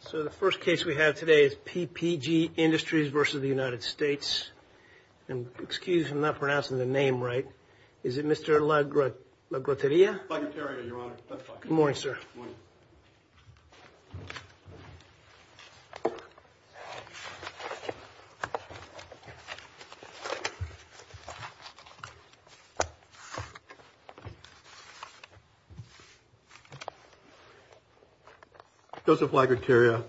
So the first case we have today is PPG Industries versus the United States. And excuse me, I'm not pronouncing the name right. Is it Mr. LaGrotteria? LaGrotteria, Your Honor. That's right. Good morning, sir. Morning. Joseph LaGrotteria,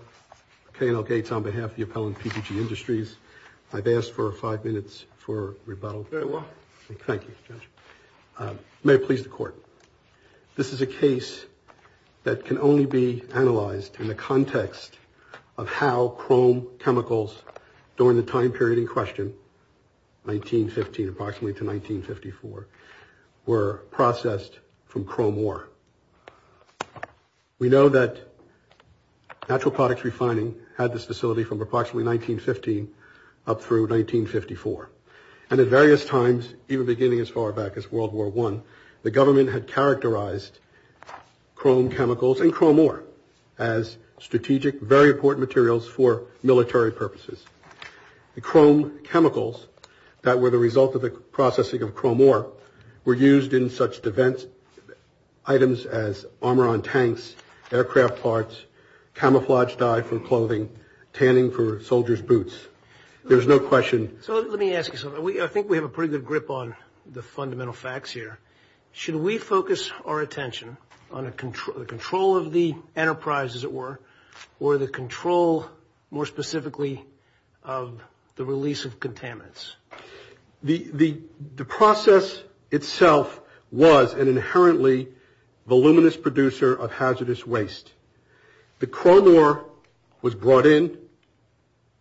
K&L Gates on behalf of the appellant PPG Industries. I've asked for five minutes for rebuttal. Very well. Thank you, Judge. May it please the Court. This is a case that can only be analyzed in the context of how chrome chemicals during the time period in question, 1915 approximately to 1954, were processed from chrome ore. We know that natural products refining had this facility from approximately 1915 up through 1954. And at various times, even beginning as far back as World War One, the government had characterized chrome chemicals and chrome ore as strategic, very important materials for military purposes. The chrome chemicals that were the result of the processing of chrome ore were used in such events. Items as armor on tanks, aircraft parts, camouflage dye for clothing, tanning for soldiers' boots. There's no question. So let me ask you something. I think we have a pretty good grip on the fundamental facts here. Should we focus our attention on the control of the enterprise, as it were, or the control more specifically of the release of contaminants? The process itself was an inherently voluminous producer of hazardous waste. The chrome ore was brought in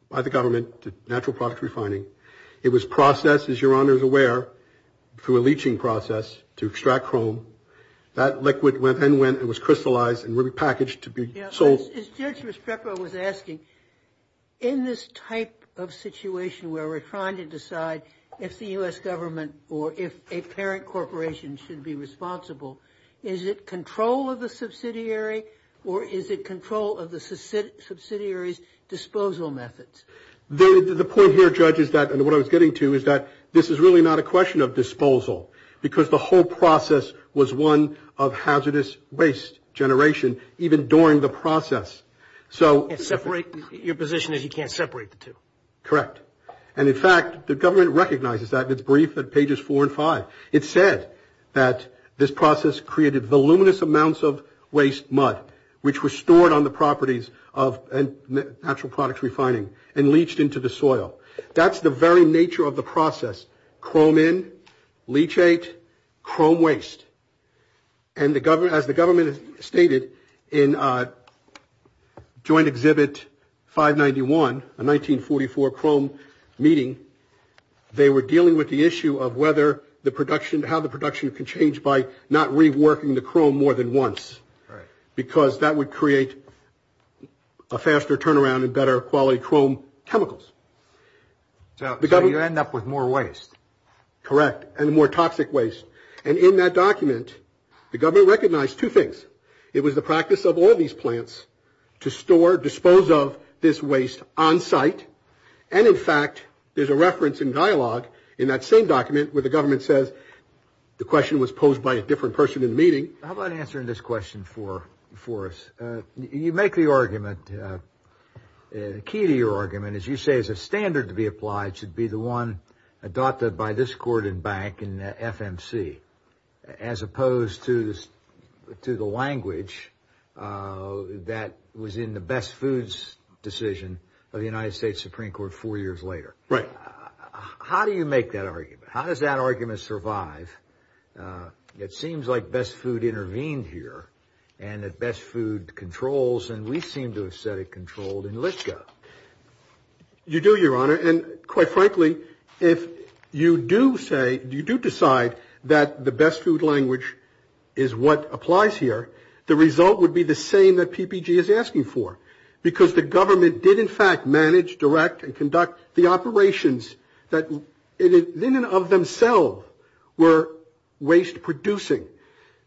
by the government to natural product refining. It was processed, as Your Honor is aware, through a leaching process to extract chrome. That liquid then went and was crystallized and repackaged to be sold. As Judge Respeca was asking, in this type of situation where we're trying to decide if the U.S. government or if a parent corporation should be responsible, is it control of the subsidiary or is it control of the subsidiary's disposal methods? The point here, Judge, is that, and what I was getting to, is that this is really not a question of disposal, because the whole process was one of hazardous waste generation, even during the process. Your position is you can't separate the two? Correct. And, in fact, the government recognizes that in its brief at pages four and five. It said that this process created voluminous amounts of waste mud, which were stored on the properties of natural product refining and leached into the soil. That's the very nature of the process. Chrome in, leachate, chrome waste. And as the government stated in joint exhibit 591, a 1944 chrome meeting, they were dealing with the issue of whether the production, how the production can change by not reworking the chrome more than once. Right. Because that would create a faster turnaround and better quality chrome chemicals. So you end up with more waste? Correct. And more toxic waste. And in that document, the government recognized two things. It was the practice of all these plants to store, dispose of this waste on site. And, in fact, there's a reference in dialogue in that same document where the government says, the question was posed by a different person in the meeting. How about answering this question for us? You make the argument, the key to your argument, as you say, is a standard to be applied should be the one adopted by this court and bank and FMC, as opposed to the language that was in the best foods decision of the United States Supreme Court four years later. Right. How do you make that argument? How does that argument survive? It seems like best food intervened here and that best food controls. And we seem to have said it controlled and let go. You do, Your Honor. And, quite frankly, if you do say you do decide that the best food language is what applies here, the result would be the same that PPG is asking for because the government did, in fact, manage, direct, and conduct the operations that in and of themselves were waste producing.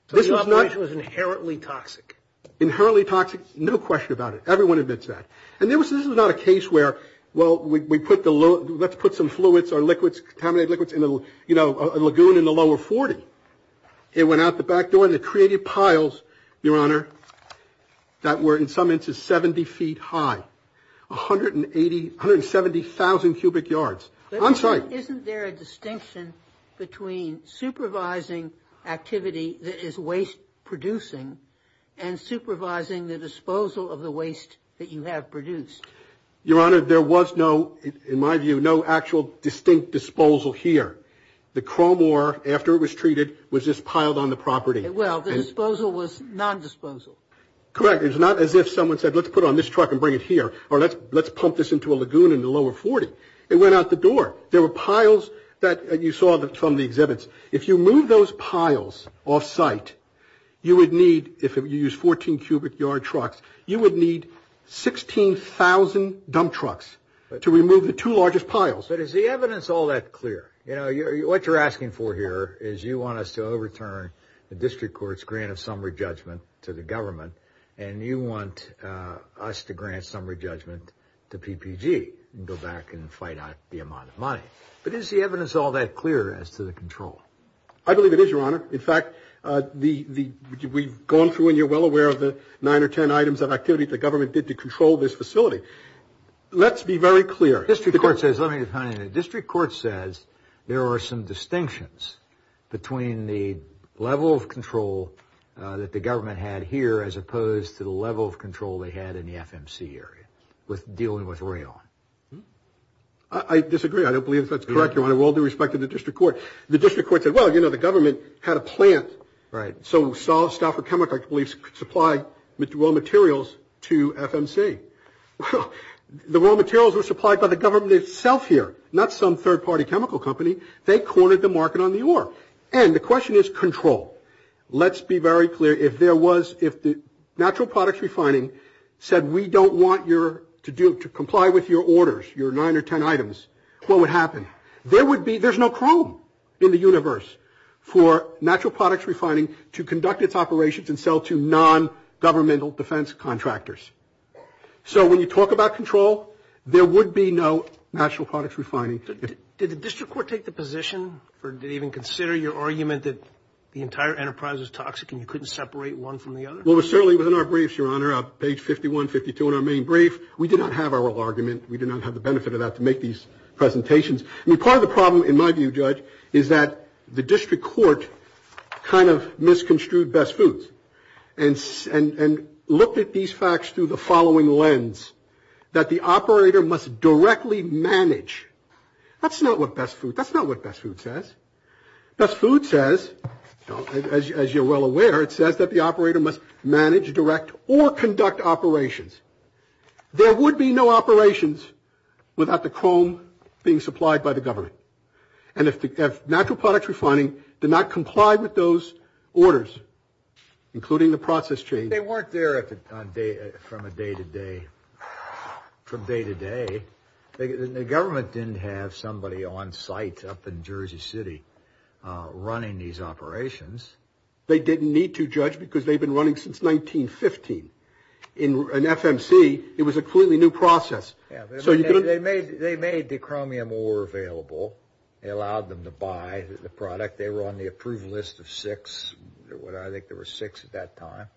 So the operation was inherently toxic. Inherently toxic. No question about it. Everyone admits that. And this was not a case where, well, let's put some fluids or liquids, contaminated liquids in a lagoon in the lower 40. It went out the back door and it created piles, Your Honor, that were in some instances 70 feet high. 180, 170,000 cubic yards. I'm sorry. Isn't there a distinction between supervising activity that is waste producing and supervising the disposal of the waste that you have produced? Your Honor, there was no, in my view, no actual distinct disposal here. The Crowmore, after it was treated, was just piled on the property. Well, the disposal was non-disposal. Correct. It was not as if someone said let's put it on this truck and bring it here or let's pump this into a lagoon in the lower 40. It went out the door. There were piles that you saw from the exhibits. If you move those piles off site, you would need, if you use 14 cubic yard trucks, you would need 16,000 dump trucks to remove the two largest piles. But is the evidence all that clear? You know, what you're asking for here is you want us to overturn the district court's grant of summary judgment to the government and you want us to grant summary judgment to PPG and go back and fight out the amount of money. But is the evidence all that clear as to the control? I believe it is, Your Honor. In fact, we've gone through and you're well aware of the nine or ten items of activity the government did to control this facility. Let's be very clear. The district court says, let me define it. as opposed to the level of control they had in the FMC area with dealing with Rayon. I disagree. I don't believe that's correct, Your Honor. With all due respect to the district court, the district court said, well, you know, the government had a plant. Right. So Stouffer Chemical, I believe, supplied raw materials to FMC. Well, the raw materials were supplied by the government itself here, not some third-party chemical company. They cornered the market on the ore. And the question is control. Let's be very clear. If there was, if the natural products refining said, we don't want you to comply with your orders, your nine or ten items, what would happen? There would be, there's no problem in the universe for natural products refining to conduct its operations and sell to non-governmental defense contractors. So when you talk about control, there would be no natural products refining. Did the district court take the position for, did it even consider your argument that the entire enterprise was toxic and you couldn't separate one from the other? Well, it was certainly within our briefs, Your Honor, page 51, 52 in our main brief. We did not have our argument. We did not have the benefit of that to make these presentations. I mean, part of the problem, in my view, Judge, is that the district court kind of misconstrued best foods and looked at these facts through the following lens, that the operator must directly manage. That's not what best food, that's not what best food says. Best food says, as you're well aware, it says that the operator must manage, direct, or conduct operations. There would be no operations without the chrome being supplied by the government. And if natural products refining did not comply with those orders, including the process change. They weren't there from a day-to-day, from day-to-day. The government didn't have somebody on site up in Jersey City running these operations. They didn't need to, Judge, because they'd been running since 1915. In FMC, it was a completely new process. Yeah, they made the chromium ore available. It allowed them to buy the product. They were on the approved list of six. I think there were six at that time.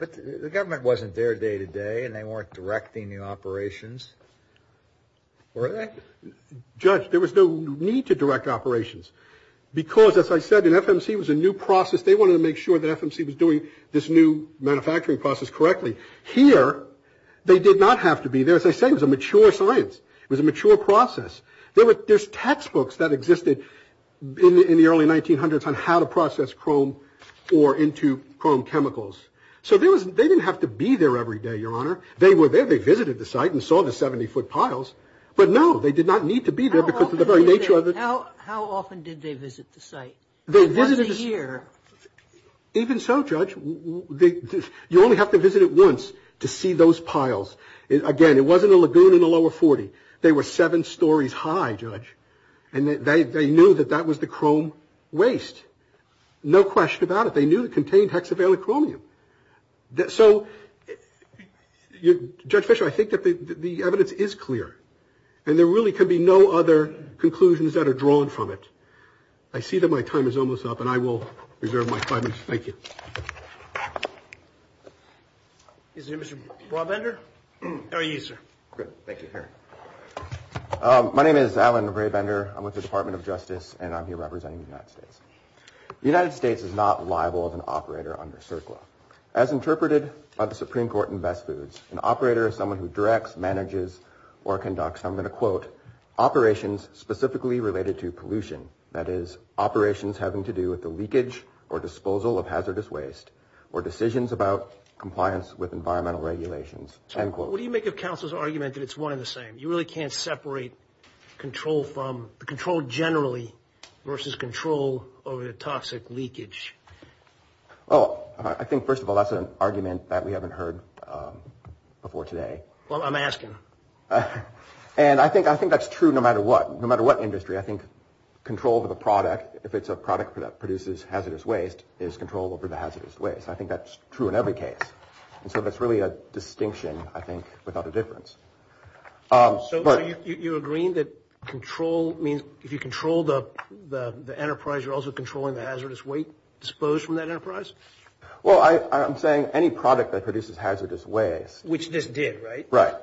But the government wasn't there day-to-day, and they weren't directing the operations, were they? Judge, there was no need to direct operations. Because, as I said, in FMC, it was a new process. They wanted to make sure that FMC was doing this new manufacturing process correctly. Here, they did not have to be there. As I said, it was a mature science. It was a mature process. There's textbooks that existed in the early 1900s on how to process chrome ore into chrome chemicals. So they didn't have to be there every day, Your Honor. They were there. They visited the site and saw the 70-foot piles. But, no, they did not need to be there because of the very nature of it. How often did they visit the site? Once a year. Even so, Judge, you only have to visit it once. To see those piles. Again, it wasn't a lagoon in the lower 40. They were seven stories high, Judge. And they knew that that was the chrome waste. No question about it. They knew it contained hexavalent chromium. So, Judge Fisher, I think that the evidence is clear. And there really can be no other conclusions that are drawn from it. I see that my time is almost up, and I will reserve my five minutes. Thank you. Is there a Mr. Braubender? How are you, sir? Good. Thank you. My name is Alan Braubender. I'm with the Department of Justice, and I'm here representing the United States. The United States is not liable as an operator under CERCLA. As interpreted by the Supreme Court in Best Foods, an operator is someone who directs, manages, or conducts, and I'm going to quote, operations specifically related to pollution. That is, operations having to do with the leakage or disposal of hazardous waste or decisions about compliance with environmental regulations, end quote. What do you make of counsel's argument that it's one and the same? You really can't separate control from control generally versus control over the toxic leakage. Well, I think, first of all, that's an argument that we haven't heard before today. Well, I'm asking. And I think that's true no matter what, no matter what industry. I think control of a product, if it's a product that produces hazardous waste, is control over the hazardous waste. I think that's true in every case. And so that's really a distinction, I think, without a difference. So you're agreeing that control means if you control the enterprise, you're also controlling the hazardous waste disposed from that enterprise? Well, I'm saying any product that produces hazardous waste. Which this did, right? Right.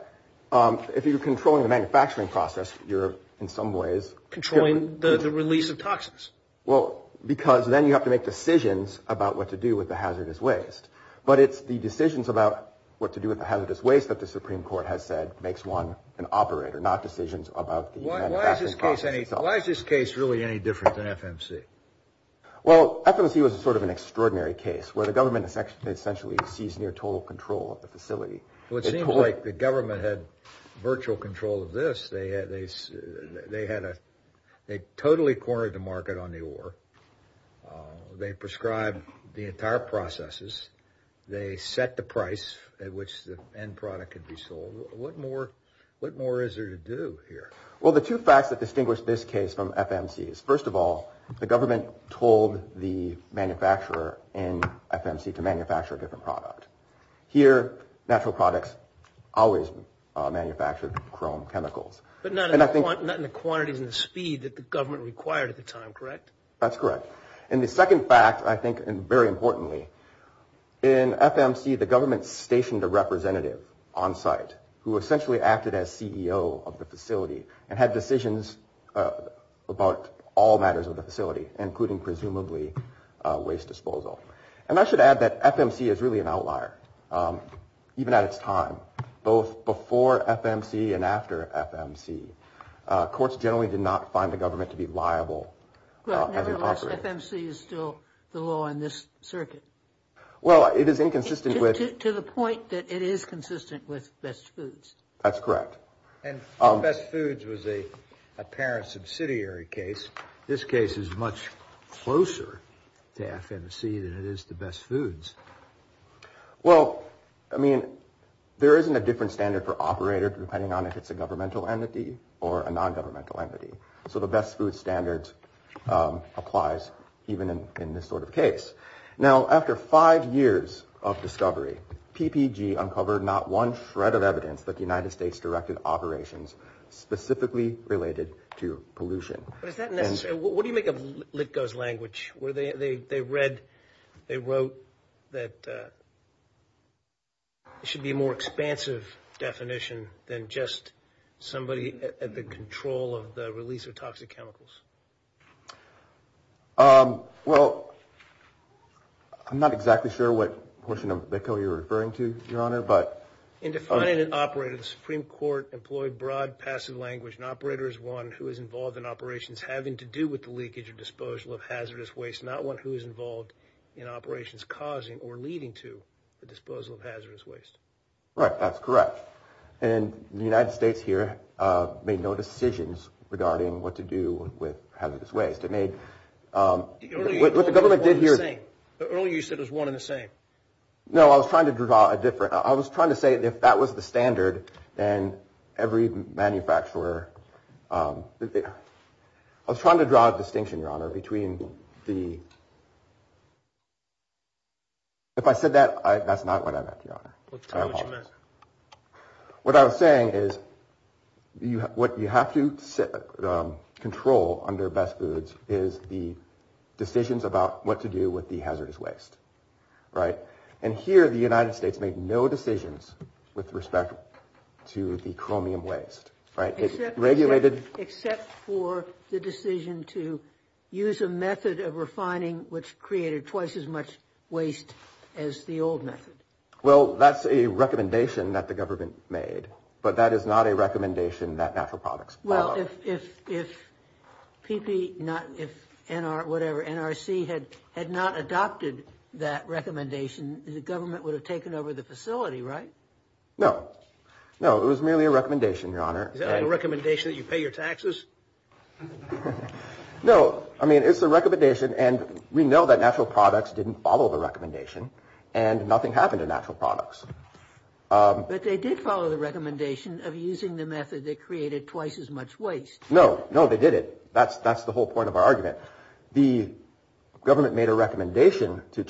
If you're controlling the manufacturing process, you're in some ways. Controlling the release of toxins. Well, because then you have to make decisions about what to do with the hazardous waste. But it's the decisions about what to do with the hazardous waste that the Supreme Court has said makes one an operator, not decisions about the manufacturing process. Why is this case really any different than FMC? Well, FMC was sort of an extraordinary case where the government essentially seized near total control of the facility. Well, it seems like the government had virtual control of this. They totally cornered the market on the ore. They prescribed the entire processes. They set the price at which the end product could be sold. What more is there to do here? Well, the two facts that distinguish this case from FMC is, first of all, the government told the manufacturer in FMC to manufacture a different product. Here, natural products always manufactured chrome chemicals. But not in the quantities and the speed that the government required at the time, correct? That's correct. And the second fact, I think, and very importantly, in FMC, the government stationed a representative on site who essentially acted as CEO of the facility and had decisions about all matters of the facility, including presumably waste disposal. And I should add that FMC is really an outlier, even at its time. Both before FMC and after FMC, courts generally did not find the government to be liable. Nevertheless, FMC is still the law in this circuit. Well, it is inconsistent with. To the point that it is consistent with Best Foods. That's correct. And Best Foods was an apparent subsidiary case. This case is much closer to FMC than it is to Best Foods. Well, I mean, there isn't a different standard for operator depending on if it's a governmental entity or a nongovernmental entity. So the Best Foods standard applies even in this sort of case. Now, after five years of discovery, PPG uncovered not one shred of evidence that the United States directed operations specifically related to pollution. What do you make of Litko's language? They wrote that it should be a more expansive definition than just somebody at the control of the release of toxic chemicals. Well, I'm not exactly sure what portion of Litko you're referring to, Your Honor. In defining an operator, the Supreme Court employed broad passive language. An operator is one who is involved in operations having to do with the leakage or disposal of hazardous waste, not one who is involved in operations causing or leading to the disposal of hazardous waste. Right, that's correct. And the United States here made no decisions regarding what to do with hazardous waste. It made – what the government did here – Earlier you said it was one and the same. No, I was trying to draw a different – I was trying to say if that was the standard, then every manufacturer – I was trying to draw a distinction, Your Honor, between the – if I said that, that's not what I meant, Your Honor. What I was saying is what you have to control under best foods is the decisions about what to do with the hazardous waste. And here the United States made no decisions with respect to the chromium waste. Except for the decision to use a method of refining which created twice as much waste as the old method. Well, that's a recommendation that the government made, but that is not a recommendation that natural products follow. Well, if PP – if NR – whatever, NRC had not adopted that recommendation, the government would have taken over the facility, right? No. No, it was merely a recommendation, Your Honor. Is that a recommendation that you pay your taxes? No, I mean, it's a recommendation, and we know that natural products didn't follow the recommendation, and nothing happened to natural products. But they did follow the recommendation of using the method that created twice as much waste. No. No, they didn't. That's the whole point of our argument. The government made a recommendation to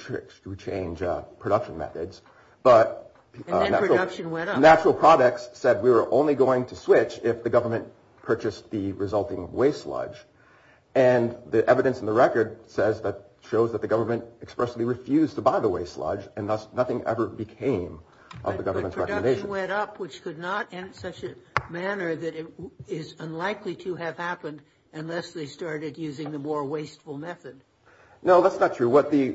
change production methods, but – And then production went up. Natural products said we were only going to switch if the government purchased the resulting waste sludge. And the evidence in the record says that – shows that the government expressly refused to buy the waste sludge, and thus nothing ever became of the government's recommendation. But production went up, which could not in such a manner that it is unlikely to have happened unless they started using the more wasteful method. No, that's not true. What the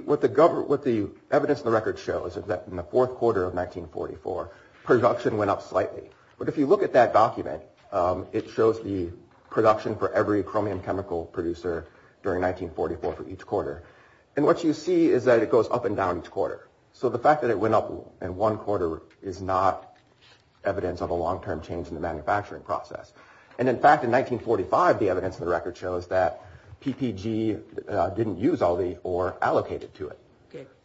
evidence in the record shows is that in the fourth quarter of 1944, production went up slightly. But if you look at that document, it shows the production for every chromium chemical producer during 1944 for each quarter. And what you see is that it goes up and down each quarter. So the fact that it went up in one quarter is not evidence of a long-term change in the manufacturing process. And in fact, in 1945, the evidence in the record shows that PPG didn't use all the ore allocated to it.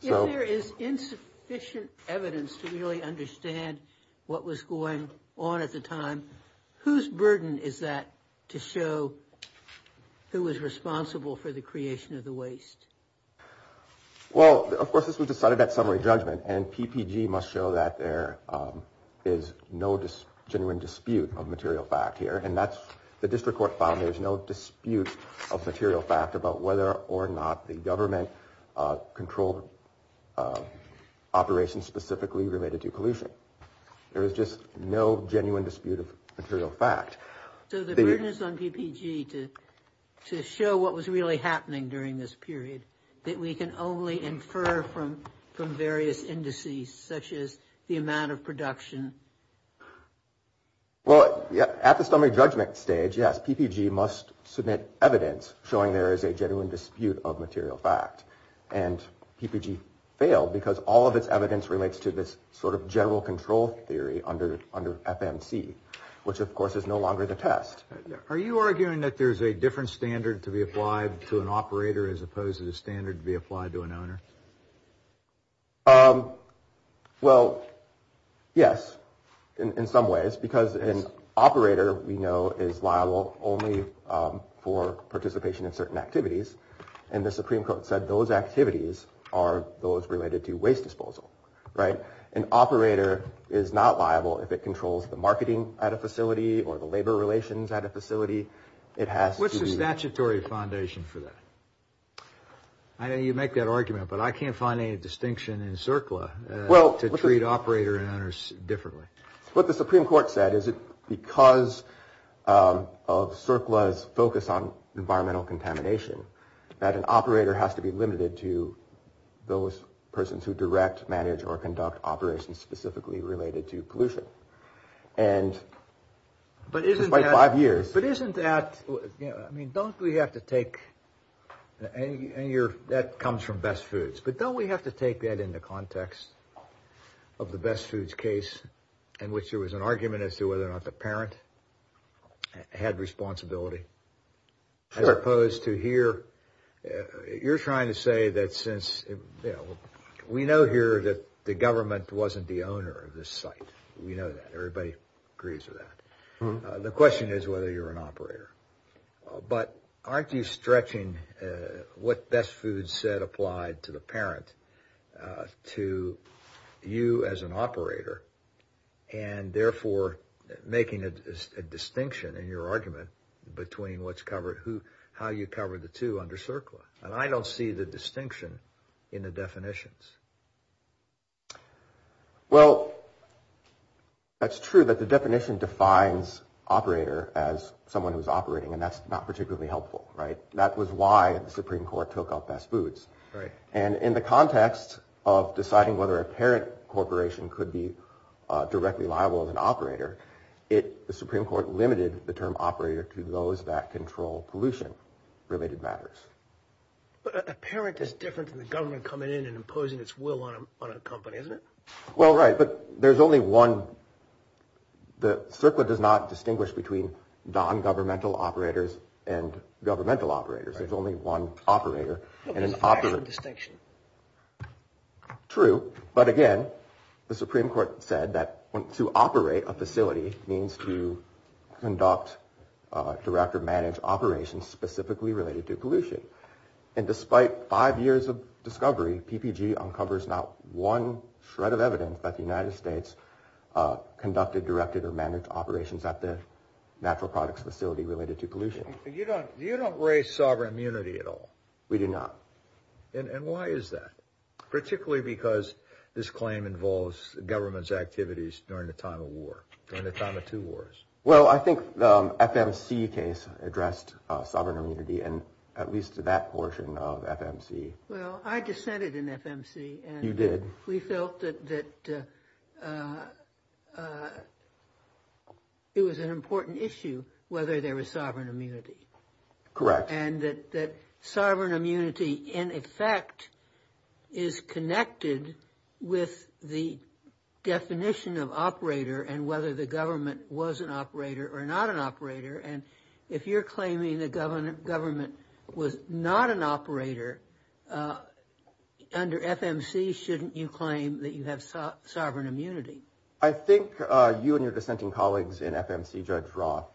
If there is insufficient evidence to really understand what was going on at the time, whose burden is that to show who was responsible for the creation of the waste? Well, of course, this was decided at summary judgment, and PPG must show that there is no genuine dispute of material fact here. And that's – the district court found there's no dispute of material fact about whether or not the government controlled operations specifically related to pollution. There is just no genuine dispute of material fact. So the burden is on PPG to show what was really happening during this period, that we can only infer from various indices such as the amount of production? Well, at the summary judgment stage, yes, PPG must submit evidence showing there is a genuine dispute of material fact. And PPG failed because all of its evidence relates to this sort of general control theory under FMC, which, of course, is no longer the test. Are you arguing that there's a different standard to be applied to an operator as opposed to the standard to be applied to an owner? Well, yes, in some ways, because an operator, we know, is liable only for participation in certain activities. And the Supreme Court said those activities are those related to waste disposal, right? An operator is not liable if it controls the marketing at a facility or the labor relations at a facility. It has to be – What's the statutory foundation for that? I know you make that argument, but I can't find any distinction in CERCLA to treat operator and owners differently. What the Supreme Court said is that because of CERCLA's focus on environmental contamination, that an operator has to be limited to those persons who direct, manage, or conduct operations specifically related to pollution. And despite five years – But isn't that – I mean, don't we have to take – and that comes from Best Foods. But don't we have to take that into context of the Best Foods case in which there was an argument as to whether or not the parent had responsibility as opposed to here? You're trying to say that since – we know here that the government wasn't the owner of this site. We know that. Everybody agrees with that. The question is whether you're an operator. But aren't you stretching what Best Foods said applied to the parent to you as an operator and therefore making a distinction in your argument between what's covered – how you cover the two under CERCLA? And I don't see the distinction in the definitions. Well, that's true that the definition defines operator as someone who's operating, and that's not particularly helpful, right? That was why the Supreme Court took out Best Foods. And in the context of deciding whether a parent corporation could be directly liable as an operator, the Supreme Court limited the term operator to those that control pollution-related matters. But a parent is different than the government coming in and imposing its will on a company, isn't it? Well, right, but there's only one – CERCLA does not distinguish between non-governmental operators and governmental operators. There's only one operator. There's a fashion distinction. True, but again, the Supreme Court said that to operate a facility means to conduct, direct, or manage operations specifically related to pollution. And despite five years of discovery, PPG uncovers not one shred of evidence that the United States conducted, directed, or managed operations at the natural products facility related to pollution. You don't raise sovereign immunity at all? We do not. And why is that, particularly because this claim involves government's activities during the time of war, during the time of two wars? Well, I think the FMC case addressed sovereign immunity and at least that portion of FMC. Well, I dissented in FMC. You did. We felt that it was an important issue whether there was sovereign immunity. Correct. And that sovereign immunity, in effect, is connected with the definition of operator and whether the government was an operator or not an operator. And if you're claiming the government was not an operator under FMC, shouldn't you claim that you have sovereign immunity? I think you and your dissenting colleagues in FMC, Judge Roth,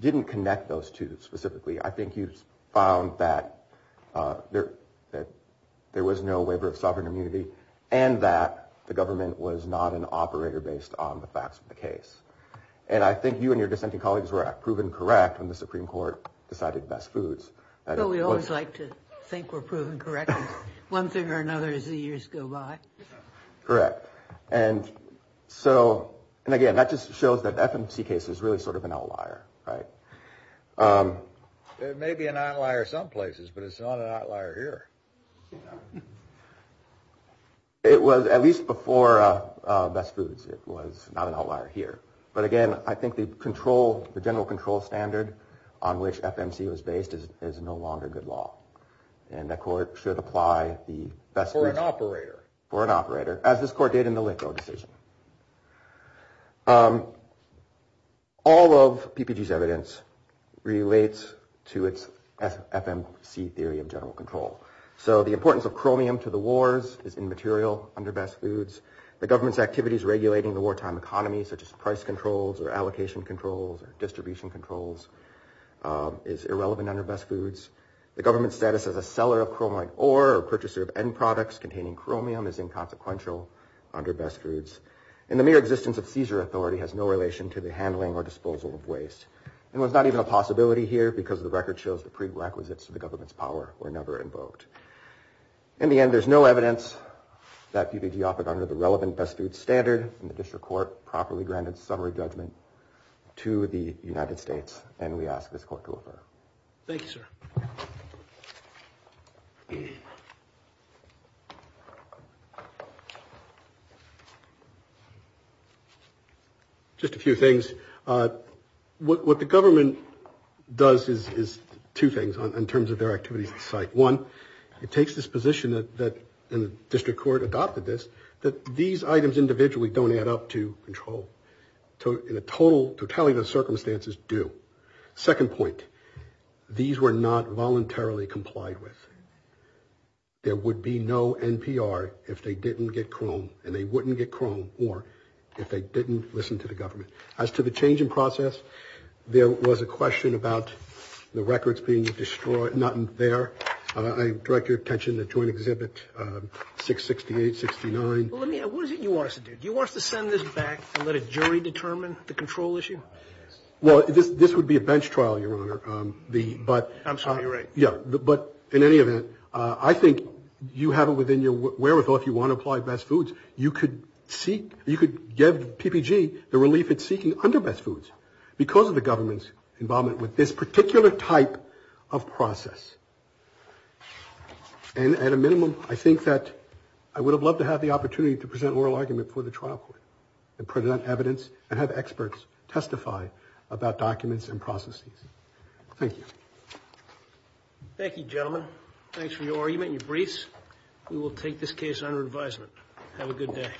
didn't connect those two specifically. I think you found that there was no waiver of sovereign immunity and that the government was not an operator based on the facts of the case. And I think you and your dissenting colleagues were proven correct when the Supreme Court decided best foods. We always like to think we're proven correct. One thing or another as the years go by. Correct. And so, and again, that just shows that FMC case is really sort of an outlier, right? It may be an outlier some places, but it's not an outlier here. It was at least before best foods. It was not an outlier here. But again, I think the control, the general control standard on which FMC was based is no longer good law. And the court should apply the best foods. For an operator. For an operator, as this court did in the Lincoln decision. All of PPG's evidence relates to its FMC theory of general control. So the importance of chromium to the wars is immaterial under best foods. The government's activities regulating the wartime economy such as price controls or allocation controls or distribution controls is irrelevant under best foods. The government's status as a seller of chromite ore or purchaser of end products containing chromium is inconsequential under best foods. And the mere existence of seizure authority has no relation to the handling or disposal of waste. And there's not even a possibility here because the record shows the prerequisites of the government's power were never invoked. In the end, there's no evidence that PPG offered under the relevant best foods standard and the district court properly granted summary judgment to the United States. And we ask this court to refer. Thank you, sir. Just a few things. What the government does is two things in terms of their activities. Site one, it takes this position that the district court adopted this, that these items individually don't add up to control. So in a total totality, the circumstances do. Second point, these were not voluntarily complied with. There would be no NPR if they didn't get chrome and they wouldn't get chrome or if they didn't listen to the government. As to the change in process, there was a question about the records being destroyed. Not in there. I direct your attention to Joint Exhibit 668-69. What is it you want us to do? Do you want us to send this back and let a jury determine the control issue? Well, this would be a bench trial, Your Honor. I'm sorry, you're right. Yeah, but in any event, I think you have it within your wherewithal. If you want to apply best foods, you could seek, you could give PPG the relief it's seeking under best foods because of the government's involvement with this particular type of process. And at a minimum, I think that I would have loved to have the opportunity to present oral argument for the trial court and present evidence and have experts testify about documents and processes. Thank you. Thank you, gentlemen. Thanks for your argument and your briefs. We will take this case under advisement. Have a good day.